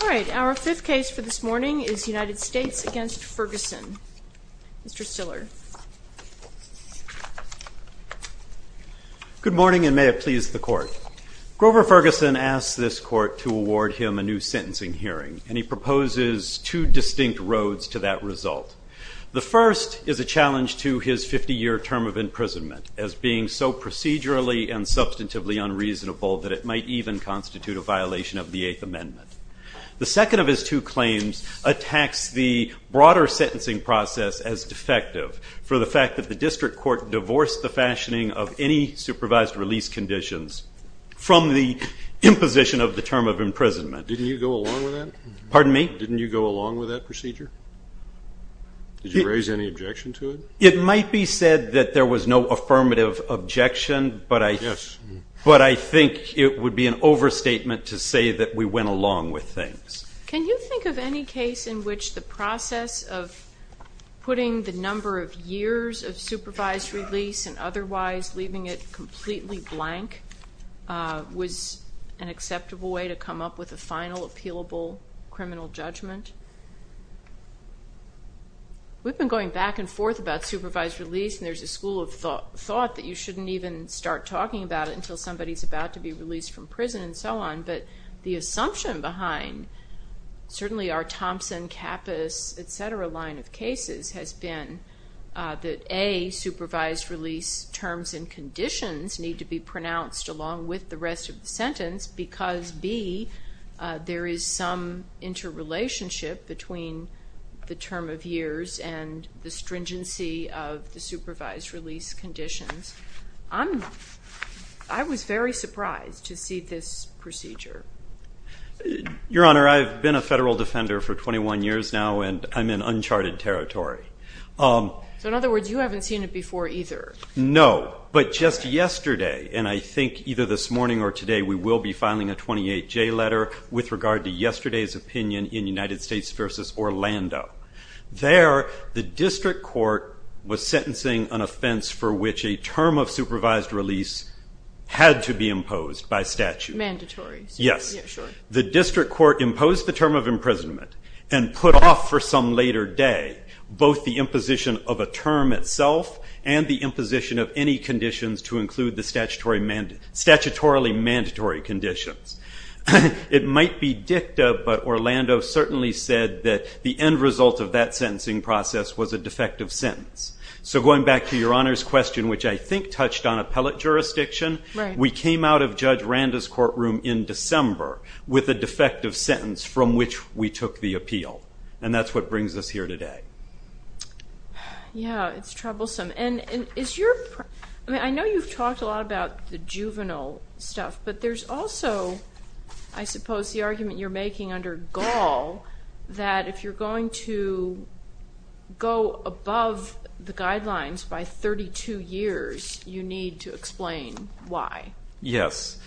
All right, our fifth case for this morning is United States v. Ferguson. Mr. Stiller. Good morning, and may it please the Court. Grover Ferguson asked this Court to award him a new sentencing hearing, and he proposes two distinct roads to that result. The first is a challenge to his 50-year term of imprisonment, as being so procedurally and substantively unreasonable that it might even constitute a violation of the Eighth Amendment. The second of his two claims attacks the broader sentencing process as defective, for the fact that the district court divorced the fashioning of any supervised release conditions from the imposition of the term of imprisonment. Didn't you go along with that? Pardon me? Didn't you go along with that procedure? Did you raise any objection to it? It might be said that there was no affirmative objection, but I think it would be an overstatement to say that we went along with things. Can you think of any case in which the process of putting the number of years of supervised release and otherwise leaving it completely blank was an acceptable way to come up with a final, appealable criminal judgment? We've been going back and forth about supervised release, and there's a school of thought that you shouldn't even start talking about it until somebody's about to be released from prison and so on, but the assumption behind certainly our Thompson, Kappus, et cetera line of cases has been that A, supervised release terms and conditions need to be pronounced along with the rest of the sentence because, B, there is some interrelationship between the term of years and the stringency of the supervised release conditions. I was very surprised to see this procedure. Your Honor, I've been a federal defender for 21 years now, and I'm in uncharted territory. So in other words, you haven't seen it before either. No, but just yesterday, and I think either this morning or today, we will be filing a 28-J letter with regard to yesterday's opinion in United States v. Orlando. There, the district court was sentencing an offense for which a term of supervised release had to be imposed by statute. Mandatory. Yes. Yeah, sure. The district court imposed the term of imprisonment and put off for some later day both the imposition of a term itself and the imposition of any conditions to include the statutorily mandatory conditions. It might be dicta, but Orlando certainly said that the end result of that sentencing process was a defective sentence. So going back to Your Honor's question, which I think touched on appellate jurisdiction, we came out of Judge Randa's courtroom in December with a defective sentence from which we took the appeal, and that's what brings us here today. Yeah, it's troublesome. I know you've talked a lot about the juvenile stuff, but there's also, I suppose, the argument you're making under Gall that if you're going to go above the guidelines by 32 years, you need to explain why. Yes.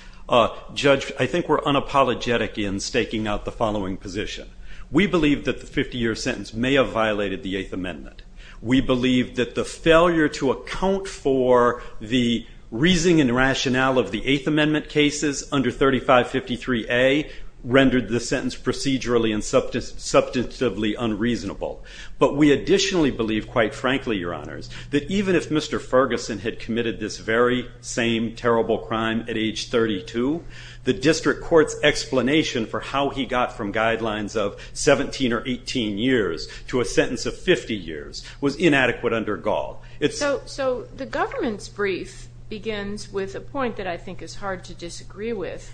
Judge, I think we're unapologetic in staking out the following position. We believe that the 50-year sentence may have violated the Eighth Amendment. We believe that the failure to account for the reasoning and rationale of the Eighth Amendment cases under 3553A rendered the sentence procedurally and substantively unreasonable. But we additionally believe, quite frankly, Your Honors, that even if Mr. Ferguson had committed this very same terrible crime at age 32, the district court's explanation for how he got from guidelines of 17 or 18 years to a sentence of 50 years was inadequate under Gall. So the government's brief begins with a point that I think is hard to disagree with,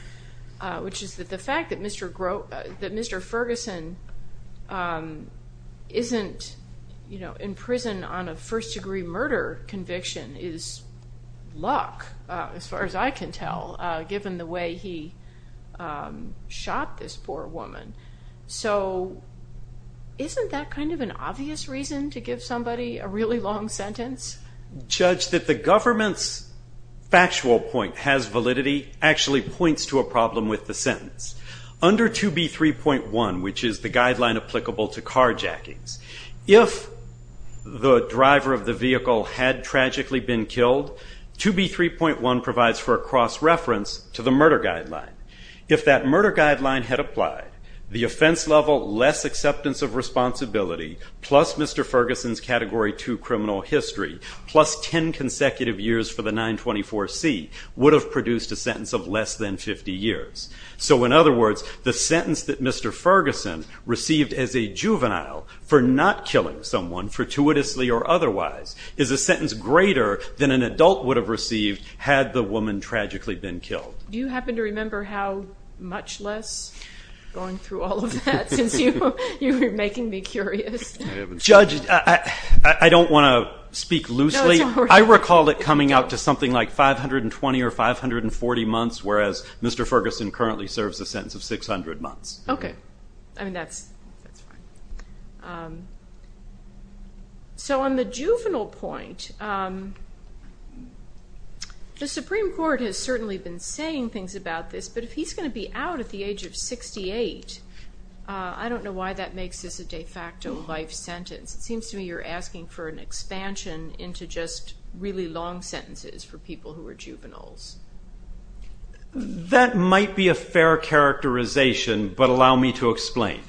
which is that the fact that Mr. Ferguson isn't in prison on a first-degree murder conviction is luck, as far as I can tell, given the way he shot this poor woman. So isn't that kind of an obvious reason to give somebody a really long sentence? Judge, that the government's factual point has validity actually points to a problem with the sentence. Under 2B3.1, which is the guideline applicable to carjackings, if the driver of the vehicle had tragically been killed, 2B3.1 provides for a cross-reference to the murder guideline. If that murder guideline had applied, the offense level, less acceptance of responsibility, plus Mr. Ferguson's Category 2 criminal history, plus 10 consecutive years for the 924C, would have produced a sentence of less than 50 years. So in other words, the sentence that Mr. Ferguson received as a juvenile for not killing someone, fortuitously or otherwise, is a sentence greater than an adult would have received had the woman tragically been killed. Do you happen to remember how much less? Going through all of that since you were making me curious. Judge, I don't want to speak loosely. I recall it coming out to something like 520 or 540 months, whereas Mr. Ferguson currently serves a sentence of 600 months. Okay. I mean, that's fine. So on the juvenile point, the Supreme Court has certainly been saying things about this, but if he's going to be out at the age of 68, I don't know why that makes this a de facto life sentence. It seems to me you're asking for an expansion into just really long sentences for people who are juveniles. That might be a fair characterization, but allow me to explain.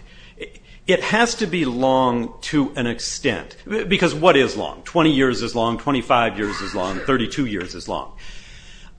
It has to be long to an extent. Because what is long? 20 years is long, 25 years is long, 32 years is long.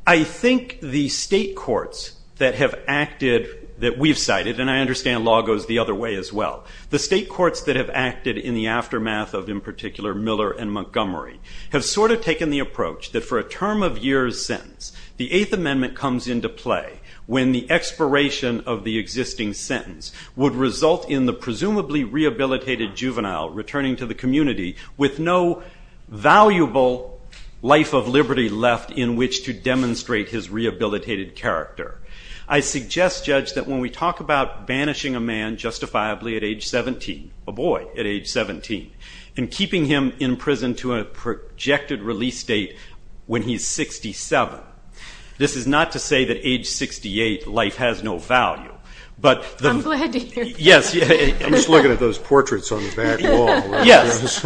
I think the state courts that have acted, that we've cited, and I understand law goes the other way as well, the state courts that have acted in the aftermath of, in particular, Miller and Montgomery, have sort of taken the approach that for a term of years sentence, the Eighth Amendment comes into play when the expiration of the existing sentence would result in the presumably rehabilitated juvenile returning to the community with no valuable life of liberty left in which to demonstrate his rehabilitated character. I suggest, Judge, that when we talk about banishing a man justifiably at age 17, a boy at age 17, and keeping him in prison to a projected release date when he's 67, this is not to say that age 68 life has no value. I'm glad to hear that. I'm just looking at those portraits on the back wall. Yes,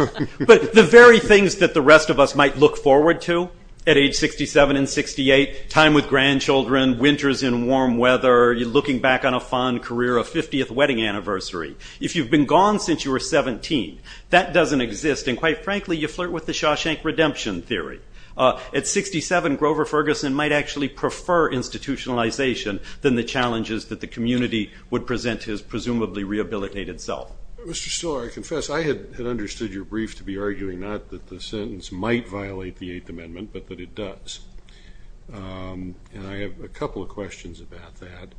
but the very things that the rest of us might look forward to at age 67 and 68, time with grandchildren, winters in warm weather, you're looking back on a fond career, a 50th wedding anniversary. If you've been gone since you were 17, that doesn't exist, and quite frankly you flirt with the Shawshank Redemption theory. At 67, Grover Ferguson might actually prefer institutionalization than the challenges that the community would present his presumably rehabilitated self. Mr. Stiller, I confess I had understood your brief to be arguing not that the sentence might violate the Eighth Amendment, but that it does, and I have a couple of questions about that.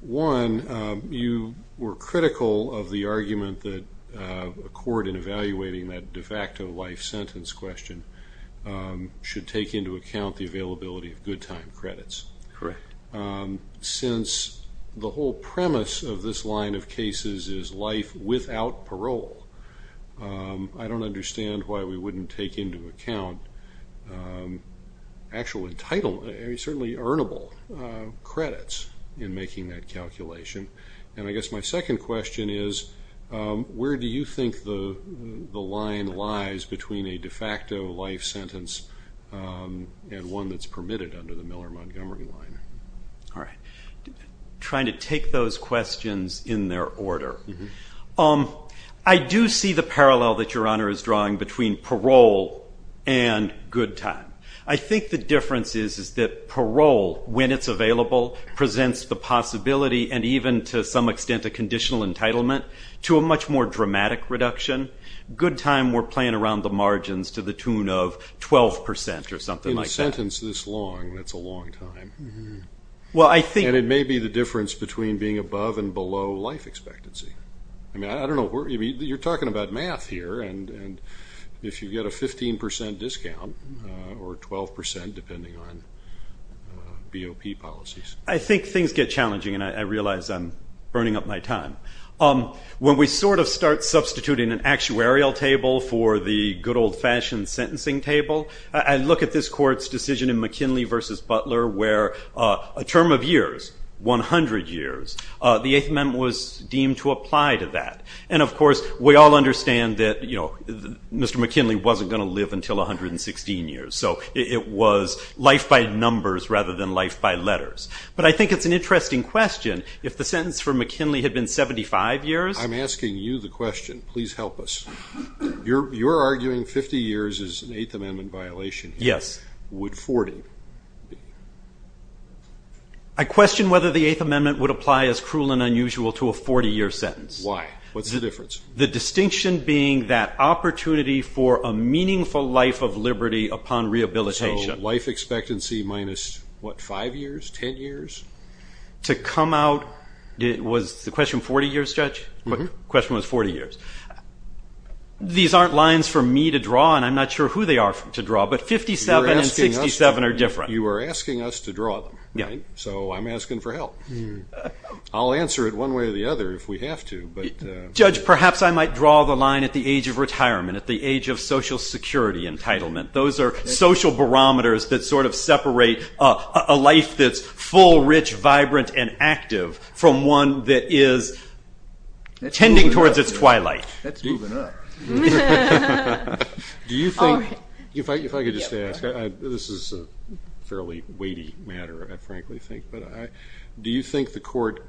One, you were critical of the argument that a court in evaluating that de facto life sentence question should take into account the availability of good time credits. Correct. Since the whole premise of this line of cases is life without parole, I don't understand why we wouldn't take into account actual entitled, certainly earnable credits in making that calculation. And I guess my second question is, where do you think the line lies between a de facto life sentence and one that's permitted under the Miller-Montgomery line? All right. Trying to take those questions in their order. I do see the parallel that Your Honor is drawing between parole and good time. I think the difference is that parole, when it's available, presents the possibility, and even to some extent a conditional entitlement, to a much more dramatic reduction. Good time, we're playing around the margins to the tune of 12 percent or something like that. In a sentence this long, that's a long time. And it may be the difference between being above and below life expectancy. I mean, you're talking about math here, and if you get a 15 percent discount or 12 percent, depending on BOP policies. I think things get challenging, and I realize I'm burning up my time. When we sort of start substituting an actuarial table for the good old-fashioned sentencing table, I look at this court's decision in McKinley v. Butler where a term of years, 100 years, the Eighth Amendment was deemed to apply to that. And, of course, we all understand that Mr. McKinley wasn't going to live until 116 years. So it was life by numbers rather than life by letters. But I think it's an interesting question. If the sentence for McKinley had been 75 years. I'm asking you the question. Please help us. You're arguing 50 years is an Eighth Amendment violation. Yes. Would 40 be? I question whether the Eighth Amendment would apply as cruel and unusual to a 40-year sentence. Why? What's the difference? The distinction being that opportunity for a meaningful life of liberty upon rehabilitation. So life expectancy minus, what, 5 years, 10 years? To come out, was the question 40 years, Judge? The question was 40 years. These aren't lines for me to draw, and I'm not sure who they are to draw, but 57 and 67 are different. You are asking us to draw them, right? So I'm asking for help. I'll answer it one way or the other if we have to. Judge, perhaps I might draw the line at the age of retirement, at the age of Social Security entitlement. Those are social barometers that sort of separate a life that's full, rich, vibrant, and active from one that is tending towards its twilight. That's moving up. Do you think, if I could just ask, this is a fairly weighty matter, I frankly think, but do you think the court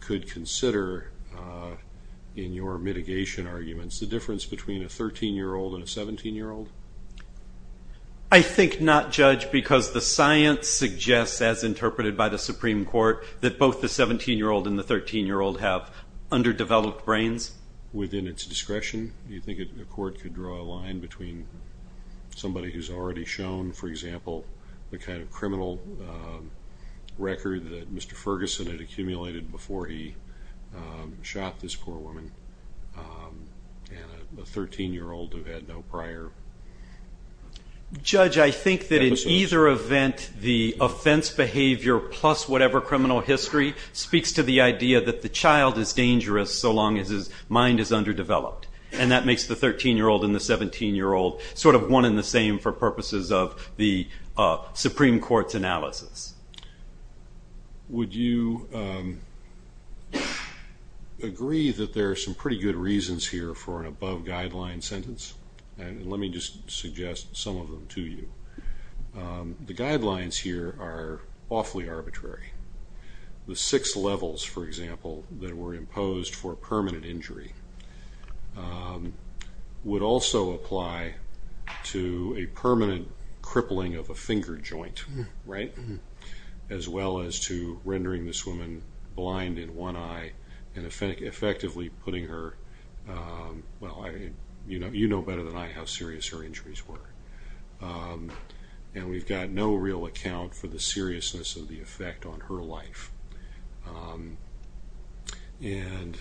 could consider, in your mitigation arguments, the difference between a 13-year-old and a 17-year-old? I think not, Judge, because the science suggests, as interpreted by the Supreme Court, that both the 17-year-old and the 13-year-old have underdeveloped brains. Within its discretion, do you think the court could draw a line between somebody who's already shown, for example, the kind of criminal record that Mr. Ferguson had accumulated before he shot this poor woman and a 13-year-old who had no prior episodes? Judge, I think that in either event, the offense behavior plus whatever criminal history speaks to the idea that the child is dangerous so long as his mind is underdeveloped, and that makes the 13-year-old and the 17-year-old sort of one and the same for purposes of the Supreme Court's analysis. Would you agree that there are some pretty good reasons here for an above-guideline sentence? Let me just suggest some of them to you. The guidelines here are awfully arbitrary. The six levels, for example, that were imposed for permanent injury would also apply to a permanent crippling of a finger joint, right, as well as to rendering this woman blind in one eye and effectively putting her— well, you know better than I how serious her injuries were. And we've got no real account for the seriousness of the effect on her life. And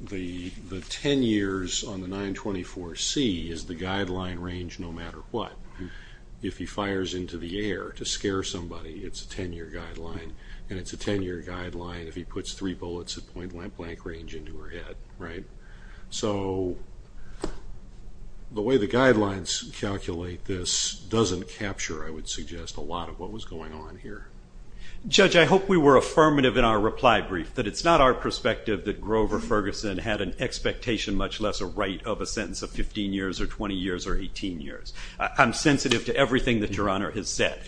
the 10 years on the 924C is the guideline range no matter what. If he fires into the air to scare somebody, it's a 10-year guideline, and it's a 10-year guideline if he puts three bullets at point-blank range into her head, right? So the way the guidelines calculate this doesn't capture, I would suggest, a lot of what was going on here. Judge, I hope we were affirmative in our reply brief, that it's not our perspective that Grover Ferguson had an expectation, much less a right of a sentence of 15 years or 20 years or 18 years. I'm sensitive to everything that Your Honor has said.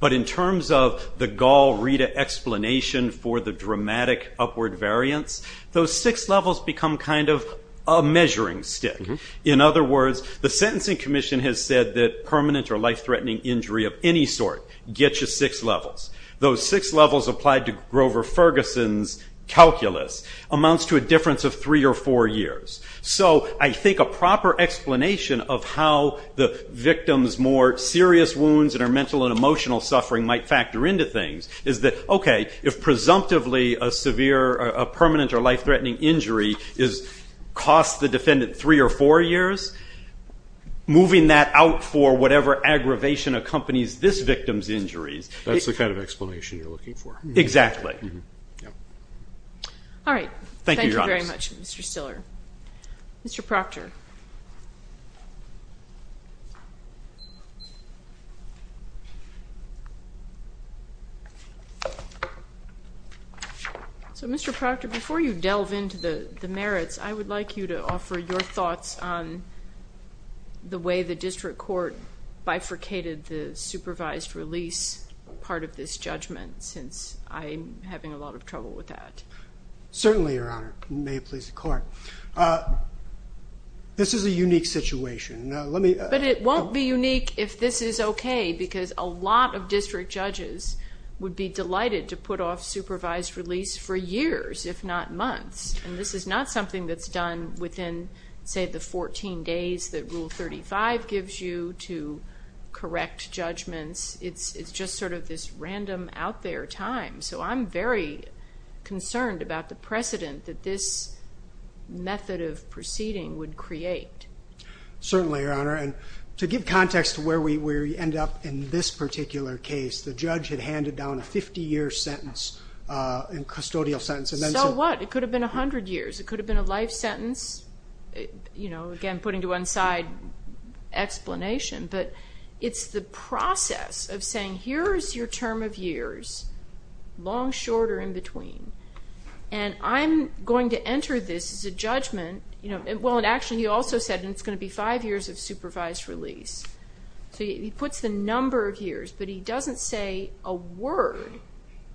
But in terms of the Gall-Rita explanation for the dramatic upward variance, those six levels become kind of a measuring stick. In other words, the Sentencing Commission has said that permanent or life-threatening injury of any sort gets you six levels. Those six levels applied to Grover Ferguson's calculus amounts to a difference of three or four years. So I think a proper explanation of how the victim's more serious wounds and her mental and emotional suffering might factor into things is that, okay, if presumptively a permanent or life-threatening injury costs the defendant three or four years, moving that out for whatever aggravation accompanies this victim's injuries. That's the kind of explanation you're looking for. Exactly. All right. Thank you very much, Mr. Stiller. Mr. Proctor. So, Mr. Proctor, before you delve into the merits, I would like you to offer your thoughts on the way the district court bifurcated the supervised release part of this judgment, since I'm having a lot of trouble with that. Certainly, Your Honor. May it please the Court. This is a unique situation. But it won't be unique if this is okay, because a lot of district judges would be delighted to put off supervised release for years, if not months. And this is not something that's done within, say, the 14 days that Rule 35 gives you to correct judgments. It's just sort of this random, out-there time. So I'm very concerned about the precedent that this method of proceeding would create. Certainly, Your Honor. And to give context to where we end up in this particular case, the judge had handed down a 50-year sentence, a custodial sentence. So what? It could have been 100 years. It could have been a life sentence. You know, again, putting to one side explanation. But it's the process of saying, here is your term of years, long, short, or in between. And I'm going to enter this as a judgment. Well, actually, he also said it's going to be five years of supervised release. So he puts the number of years, but he doesn't say a word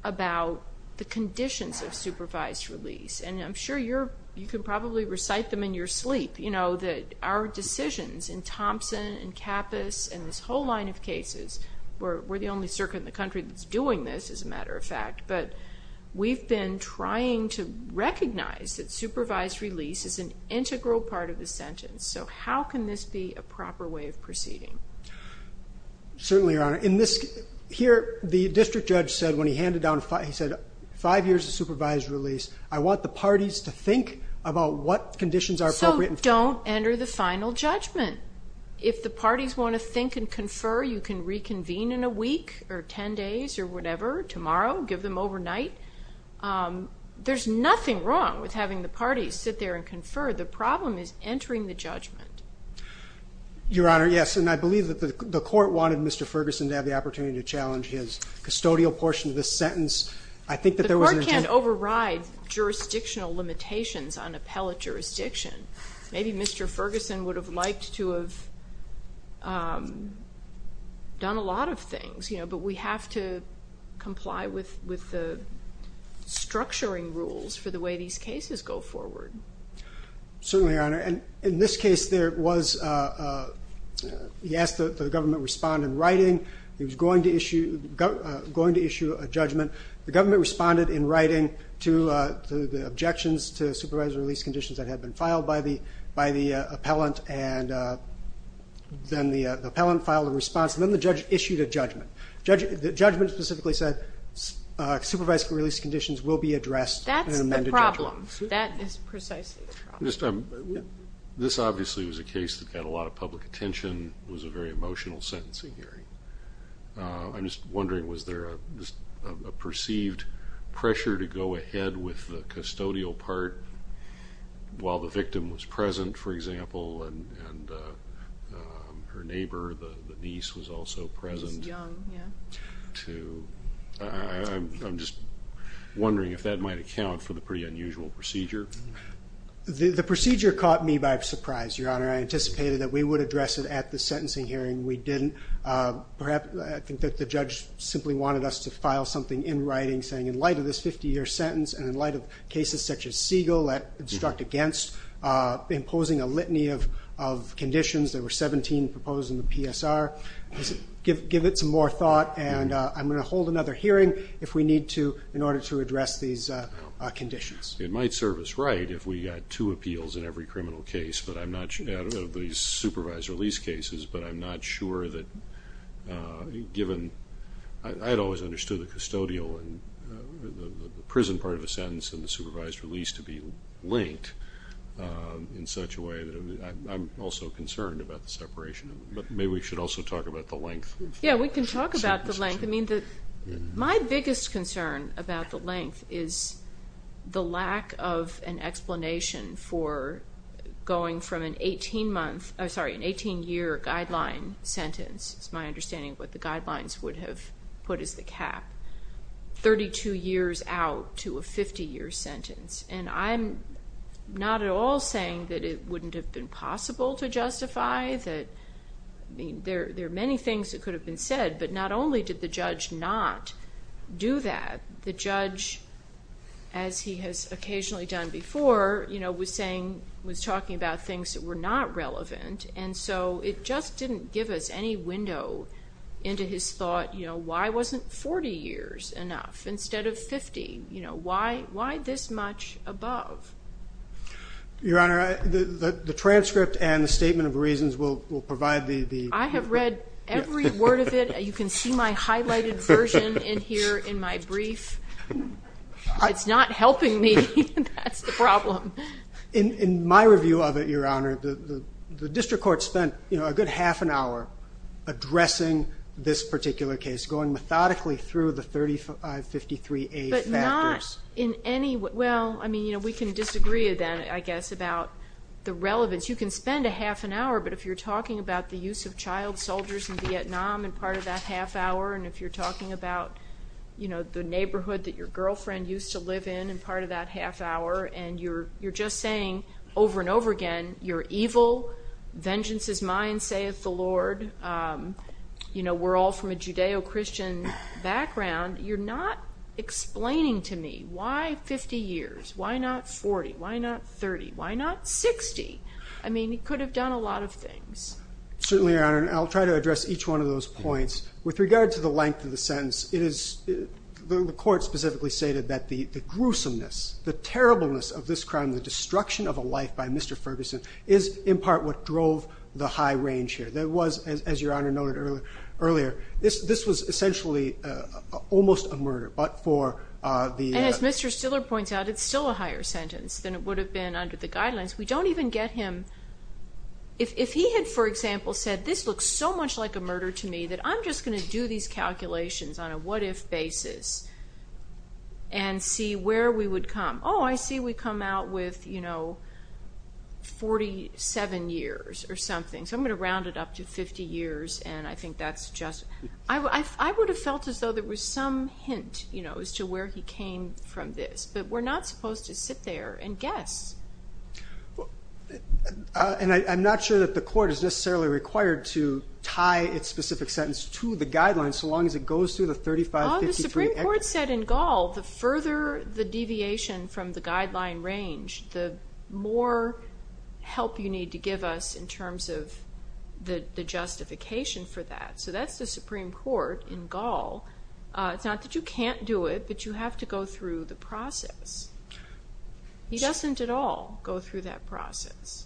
about the conditions of supervised release. And I'm sure you can probably recite them in your sleep, you know, that our decisions in Thompson and Kappus and this whole line of cases, we're the only circuit in the country that's doing this, as a matter of fact. But we've been trying to recognize that supervised release is an integral part of the sentence. So how can this be a proper way of proceeding? Certainly, Your Honor. Here, the district judge said when he handed down, he said, five years of supervised release. I want the parties to think about what conditions are appropriate. So don't enter the final judgment. If the parties want to think and confer, you can reconvene in a week or ten days or whatever. Tomorrow, give them overnight. There's nothing wrong with having the parties sit there and confer. The problem is entering the judgment. Your Honor, yes, and I believe that the court wanted Mr. Ferguson to have the opportunity to challenge his custodial portion of this sentence. The court can't override jurisdictional limitations on appellate jurisdiction. Maybe Mr. Ferguson would have liked to have done a lot of things, you know, but we have to comply with the structuring rules for the way these cases go forward. Certainly, Your Honor. And in this case, there was, he asked that the government respond in writing. He was going to issue a judgment. The government responded in writing to the objections to supervised release conditions that had been filed by the appellant, and then the appellant filed a response, and then the judge issued a judgment. The judgment specifically said supervised release conditions will be addressed in an amended judgment. That's the problem. That is precisely the problem. This obviously was a case that got a lot of public attention. It was a very emotional sentencing hearing. I'm just wondering, was there a perceived pressure to go ahead with the custodial part while the victim was present, for example, and her neighbor, the niece, was also present? She was young, yeah. I'm just wondering if that might account for the pretty unusual procedure. The procedure caught me by surprise, Your Honor. I anticipated that we would address it at the sentencing hearing. We didn't. I think that the judge simply wanted us to file something in writing saying, in light of this 50-year sentence and in light of cases such as Siegel, that obstruct against imposing a litany of conditions. There were 17 proposed in the PSR. Give it some more thought, and I'm going to hold another hearing if we need to in order to address these conditions. It might serve us right if we got two appeals in every criminal case, out of these supervised release cases, but I'm not sure that given I had always understood the custodial and the prison part of the sentence and the supervised release to be linked in such a way that I'm also concerned about the separation. Maybe we should also talk about the length. Yeah, we can talk about the length. My biggest concern about the length is the lack of an explanation for going from an 18-year guideline sentence, it's my understanding what the guidelines would have put as the cap, 32 years out to a 50-year sentence. And I'm not at all saying that it wouldn't have been possible to justify. There are many things that could have been said, but not only did the judge not do that, the judge, as he has occasionally done before, was talking about things that were not relevant, and so it just didn't give us any window into his thought, why wasn't 40 years enough instead of 50? Why this much above? Your Honor, the transcript and the statement of reasons will provide the… I have read every word of it. You can see my highlighted version in here in my brief. It's not helping me. That's the problem. In my review of it, Your Honor, the district court spent a good half an hour addressing this particular case, going methodically through the 3553A factors. But not in any way. Well, I mean, we can disagree then, I guess, about the relevance. You can spend a half an hour, but if you're talking about the use of child soldiers in Vietnam and part of that half hour, and if you're talking about the neighborhood that your girlfriend used to live in and part of that half hour, and you're just saying over and over again, you're evil, vengeance is mine, sayeth the Lord, we're all from a Judeo-Christian background, you're not explaining to me why 50 years, why not 40, why not 30, why not 60? I mean, he could have done a lot of things. Certainly, Your Honor, and I'll try to address each one of those points. With regard to the length of the sentence, the court specifically stated that the gruesomeness, the terribleness of this crime, the destruction of a life by Mr. Ferguson, is in part what drove the high range here. There was, as Your Honor noted earlier, this was essentially almost a murder, but for the... And as Mr. Stiller points out, it's still a higher sentence than it would have been under the guidelines. We don't even get him... If he had, for example, said, this looks so much like a murder to me that I'm just going to do these calculations on a what-if basis and see where we would come. Oh, I see we come out with 47 years or something, so I'm going to round it up to 50 years, and I think that's just... I would have felt as though there was some hint as to where he came from this, but we're not supposed to sit there and guess. And I'm not sure that the court is necessarily required to tie its specific sentence to the guidelines so long as it goes through the 3553... The Supreme Court said in Gall the further the deviation from the guideline range, the more help you need to give us in terms of the justification for that. So that's the Supreme Court in Gall. It's not that you can't do it, but you have to go through the process. He doesn't at all go through that process.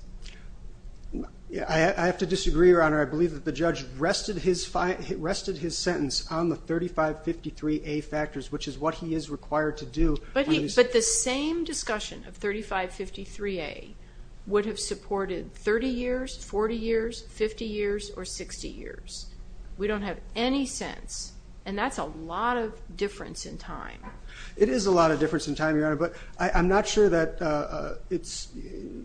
I have to disagree, Your Honour. I believe that the judge rested his sentence on the 3553A factors, which is what he is required to do... But the same discussion of 3553A would have supported 30 years, 40 years, 50 years, or 60 years. We don't have any sense, and that's a lot of difference in time. It is a lot of difference in time, Your Honour, but I'm not sure that it's...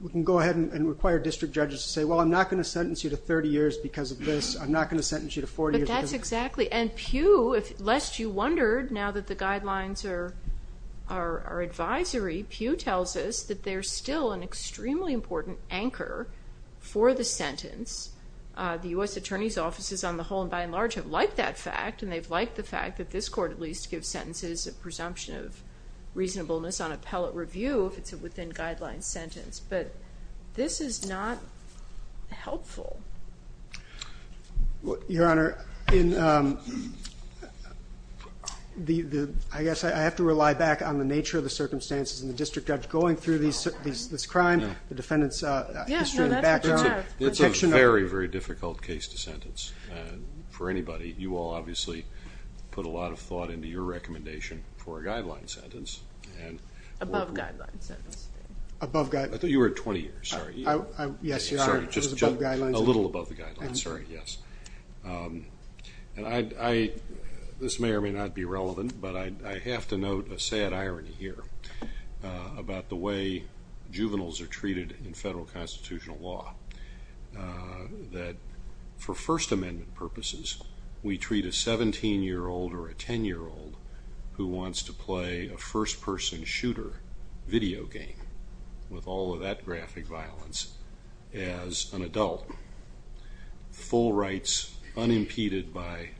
We can go ahead and require district judges to say, Well, I'm not going to sentence you to 30 years because of this. I'm not going to sentence you to 40 years... But that's exactly... And Pew, lest you wondered, now that the guidelines are advisory, Pew tells us that they're still an extremely important anchor for the sentence. The U.S. Attorney's offices, on the whole and by and large, have liked that fact, and they've liked the fact that this court at least gives sentences of presumption of reasonableness on appellate review if it's a within-guidelines sentence. But this is not helpful. Your Honour, I guess I have to rely back on the nature of the circumstances and the district judge going through this crime, the defendant's history and background... It's a very, very difficult case to sentence. For anybody, you all obviously put a lot of thought into your recommendation for a guideline sentence. Above-guideline sentence. Above-guideline. I thought you were at 20 years, sorry. Yes, Your Honour, it was above-guidelines. A little above the guidelines, sorry, yes. This may or may not be relevant, but I have to note a sad irony here about the way juveniles are treated in federal constitutional law. That for First Amendment purposes, we treat a 17-year-old or a 10-year-old who wants to play a first-person shooter video game with all of that graphic violence as an adult. Full rights, unimpeded by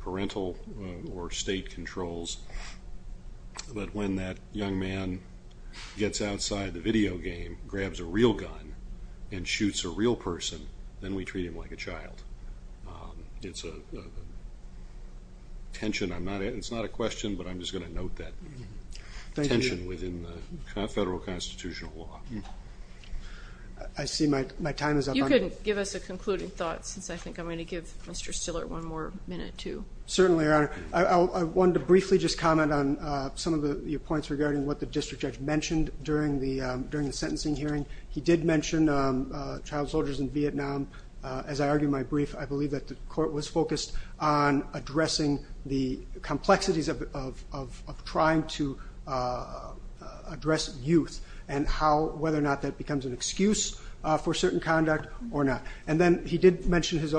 parental or state controls. But when that young man gets outside the video game, grabs a real gun, and shoots a real person, then we treat him like a child. It's a tension, it's not a question, but I'm just going to note that tension within the federal constitutional law. I see my time is up. You can give us a concluding thought, since I think I'm going to give Mr. Stiller one more minute too. Certainly, Your Honor. I wanted to briefly just comment on some of your points regarding what the district judge mentioned during the sentencing hearing. He did mention child soldiers in Vietnam. As I argue in my brief, I believe that the court was focused on addressing the complexities of trying to address youth and whether or not that becomes an excuse for certain conduct or not. And then he did mention his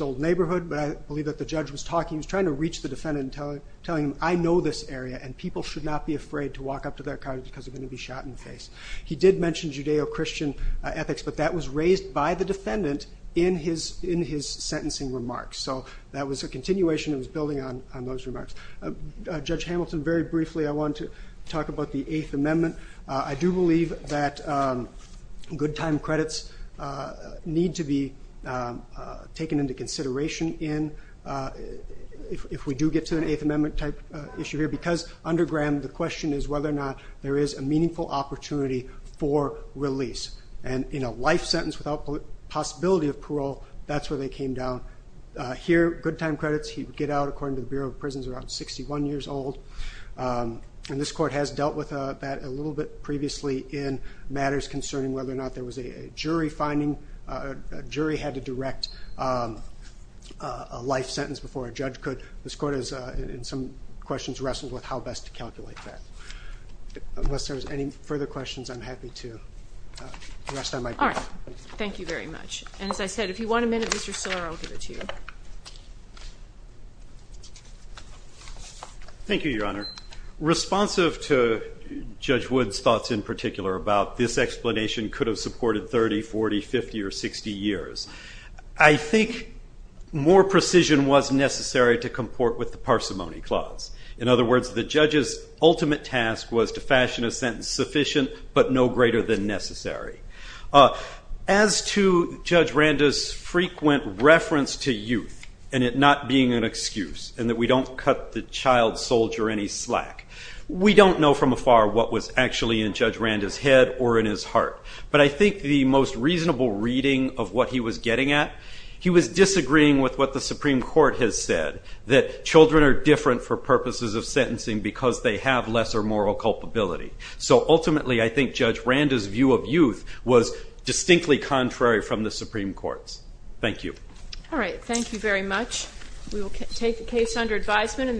old neighborhood, but I believe that the judge was trying to reach the defendant and telling him, I know this area, and people should not be afraid to walk up to their car because they're going to be shot in the face. He did mention Judeo-Christian ethics, but that was raised by the defendant in his sentencing remarks. So that was a continuation that was building on those remarks. Judge Hamilton, very briefly, I wanted to talk about the Eighth Amendment. I do believe that good time credits need to be taken into consideration if we do get to an Eighth Amendment-type issue here because under Graham, the question is whether or not there is a meaningful opportunity for release. And in a life sentence without possibility of parole, that's where they came down. Here, good time credits, he would get out, according to the Bureau of Prisons, around 61 years old. And this court has dealt with that a little bit previously in matters concerning whether or not there was a jury finding, a jury had to direct a life sentence before a judge could. This court has, in some questions, wrestled with how best to calculate that. Unless there's any further questions, I'm happy to rest on my break. All right. Thank you very much. And as I said, if you want a minute, Mr. Stiller, I'll give it to you. Thank you, Your Honor. Responsive to Judge Wood's thoughts in particular about this explanation could have supported 30, 40, 50, or 60 years, I think more precision was necessary to comport with the parsimony clause. In other words, the judge's ultimate task was to fashion a sentence sufficient but no greater than necessary. As to Judge Randa's frequent reference to youth and it not being an excuse and that we don't cut the child soldier any slack, we don't know from afar what was actually in Judge Randa's head or in his heart. But I think the most reasonable reading of what he was getting at, he was disagreeing with what the Supreme Court has said, that children are different for purposes of sentencing because they have lesser moral culpability. So ultimately, I think Judge Randa's view of youth was distinctly contrary from the Supreme Court's. Thank you. All right. Thank you very much. We will take the case under advisement.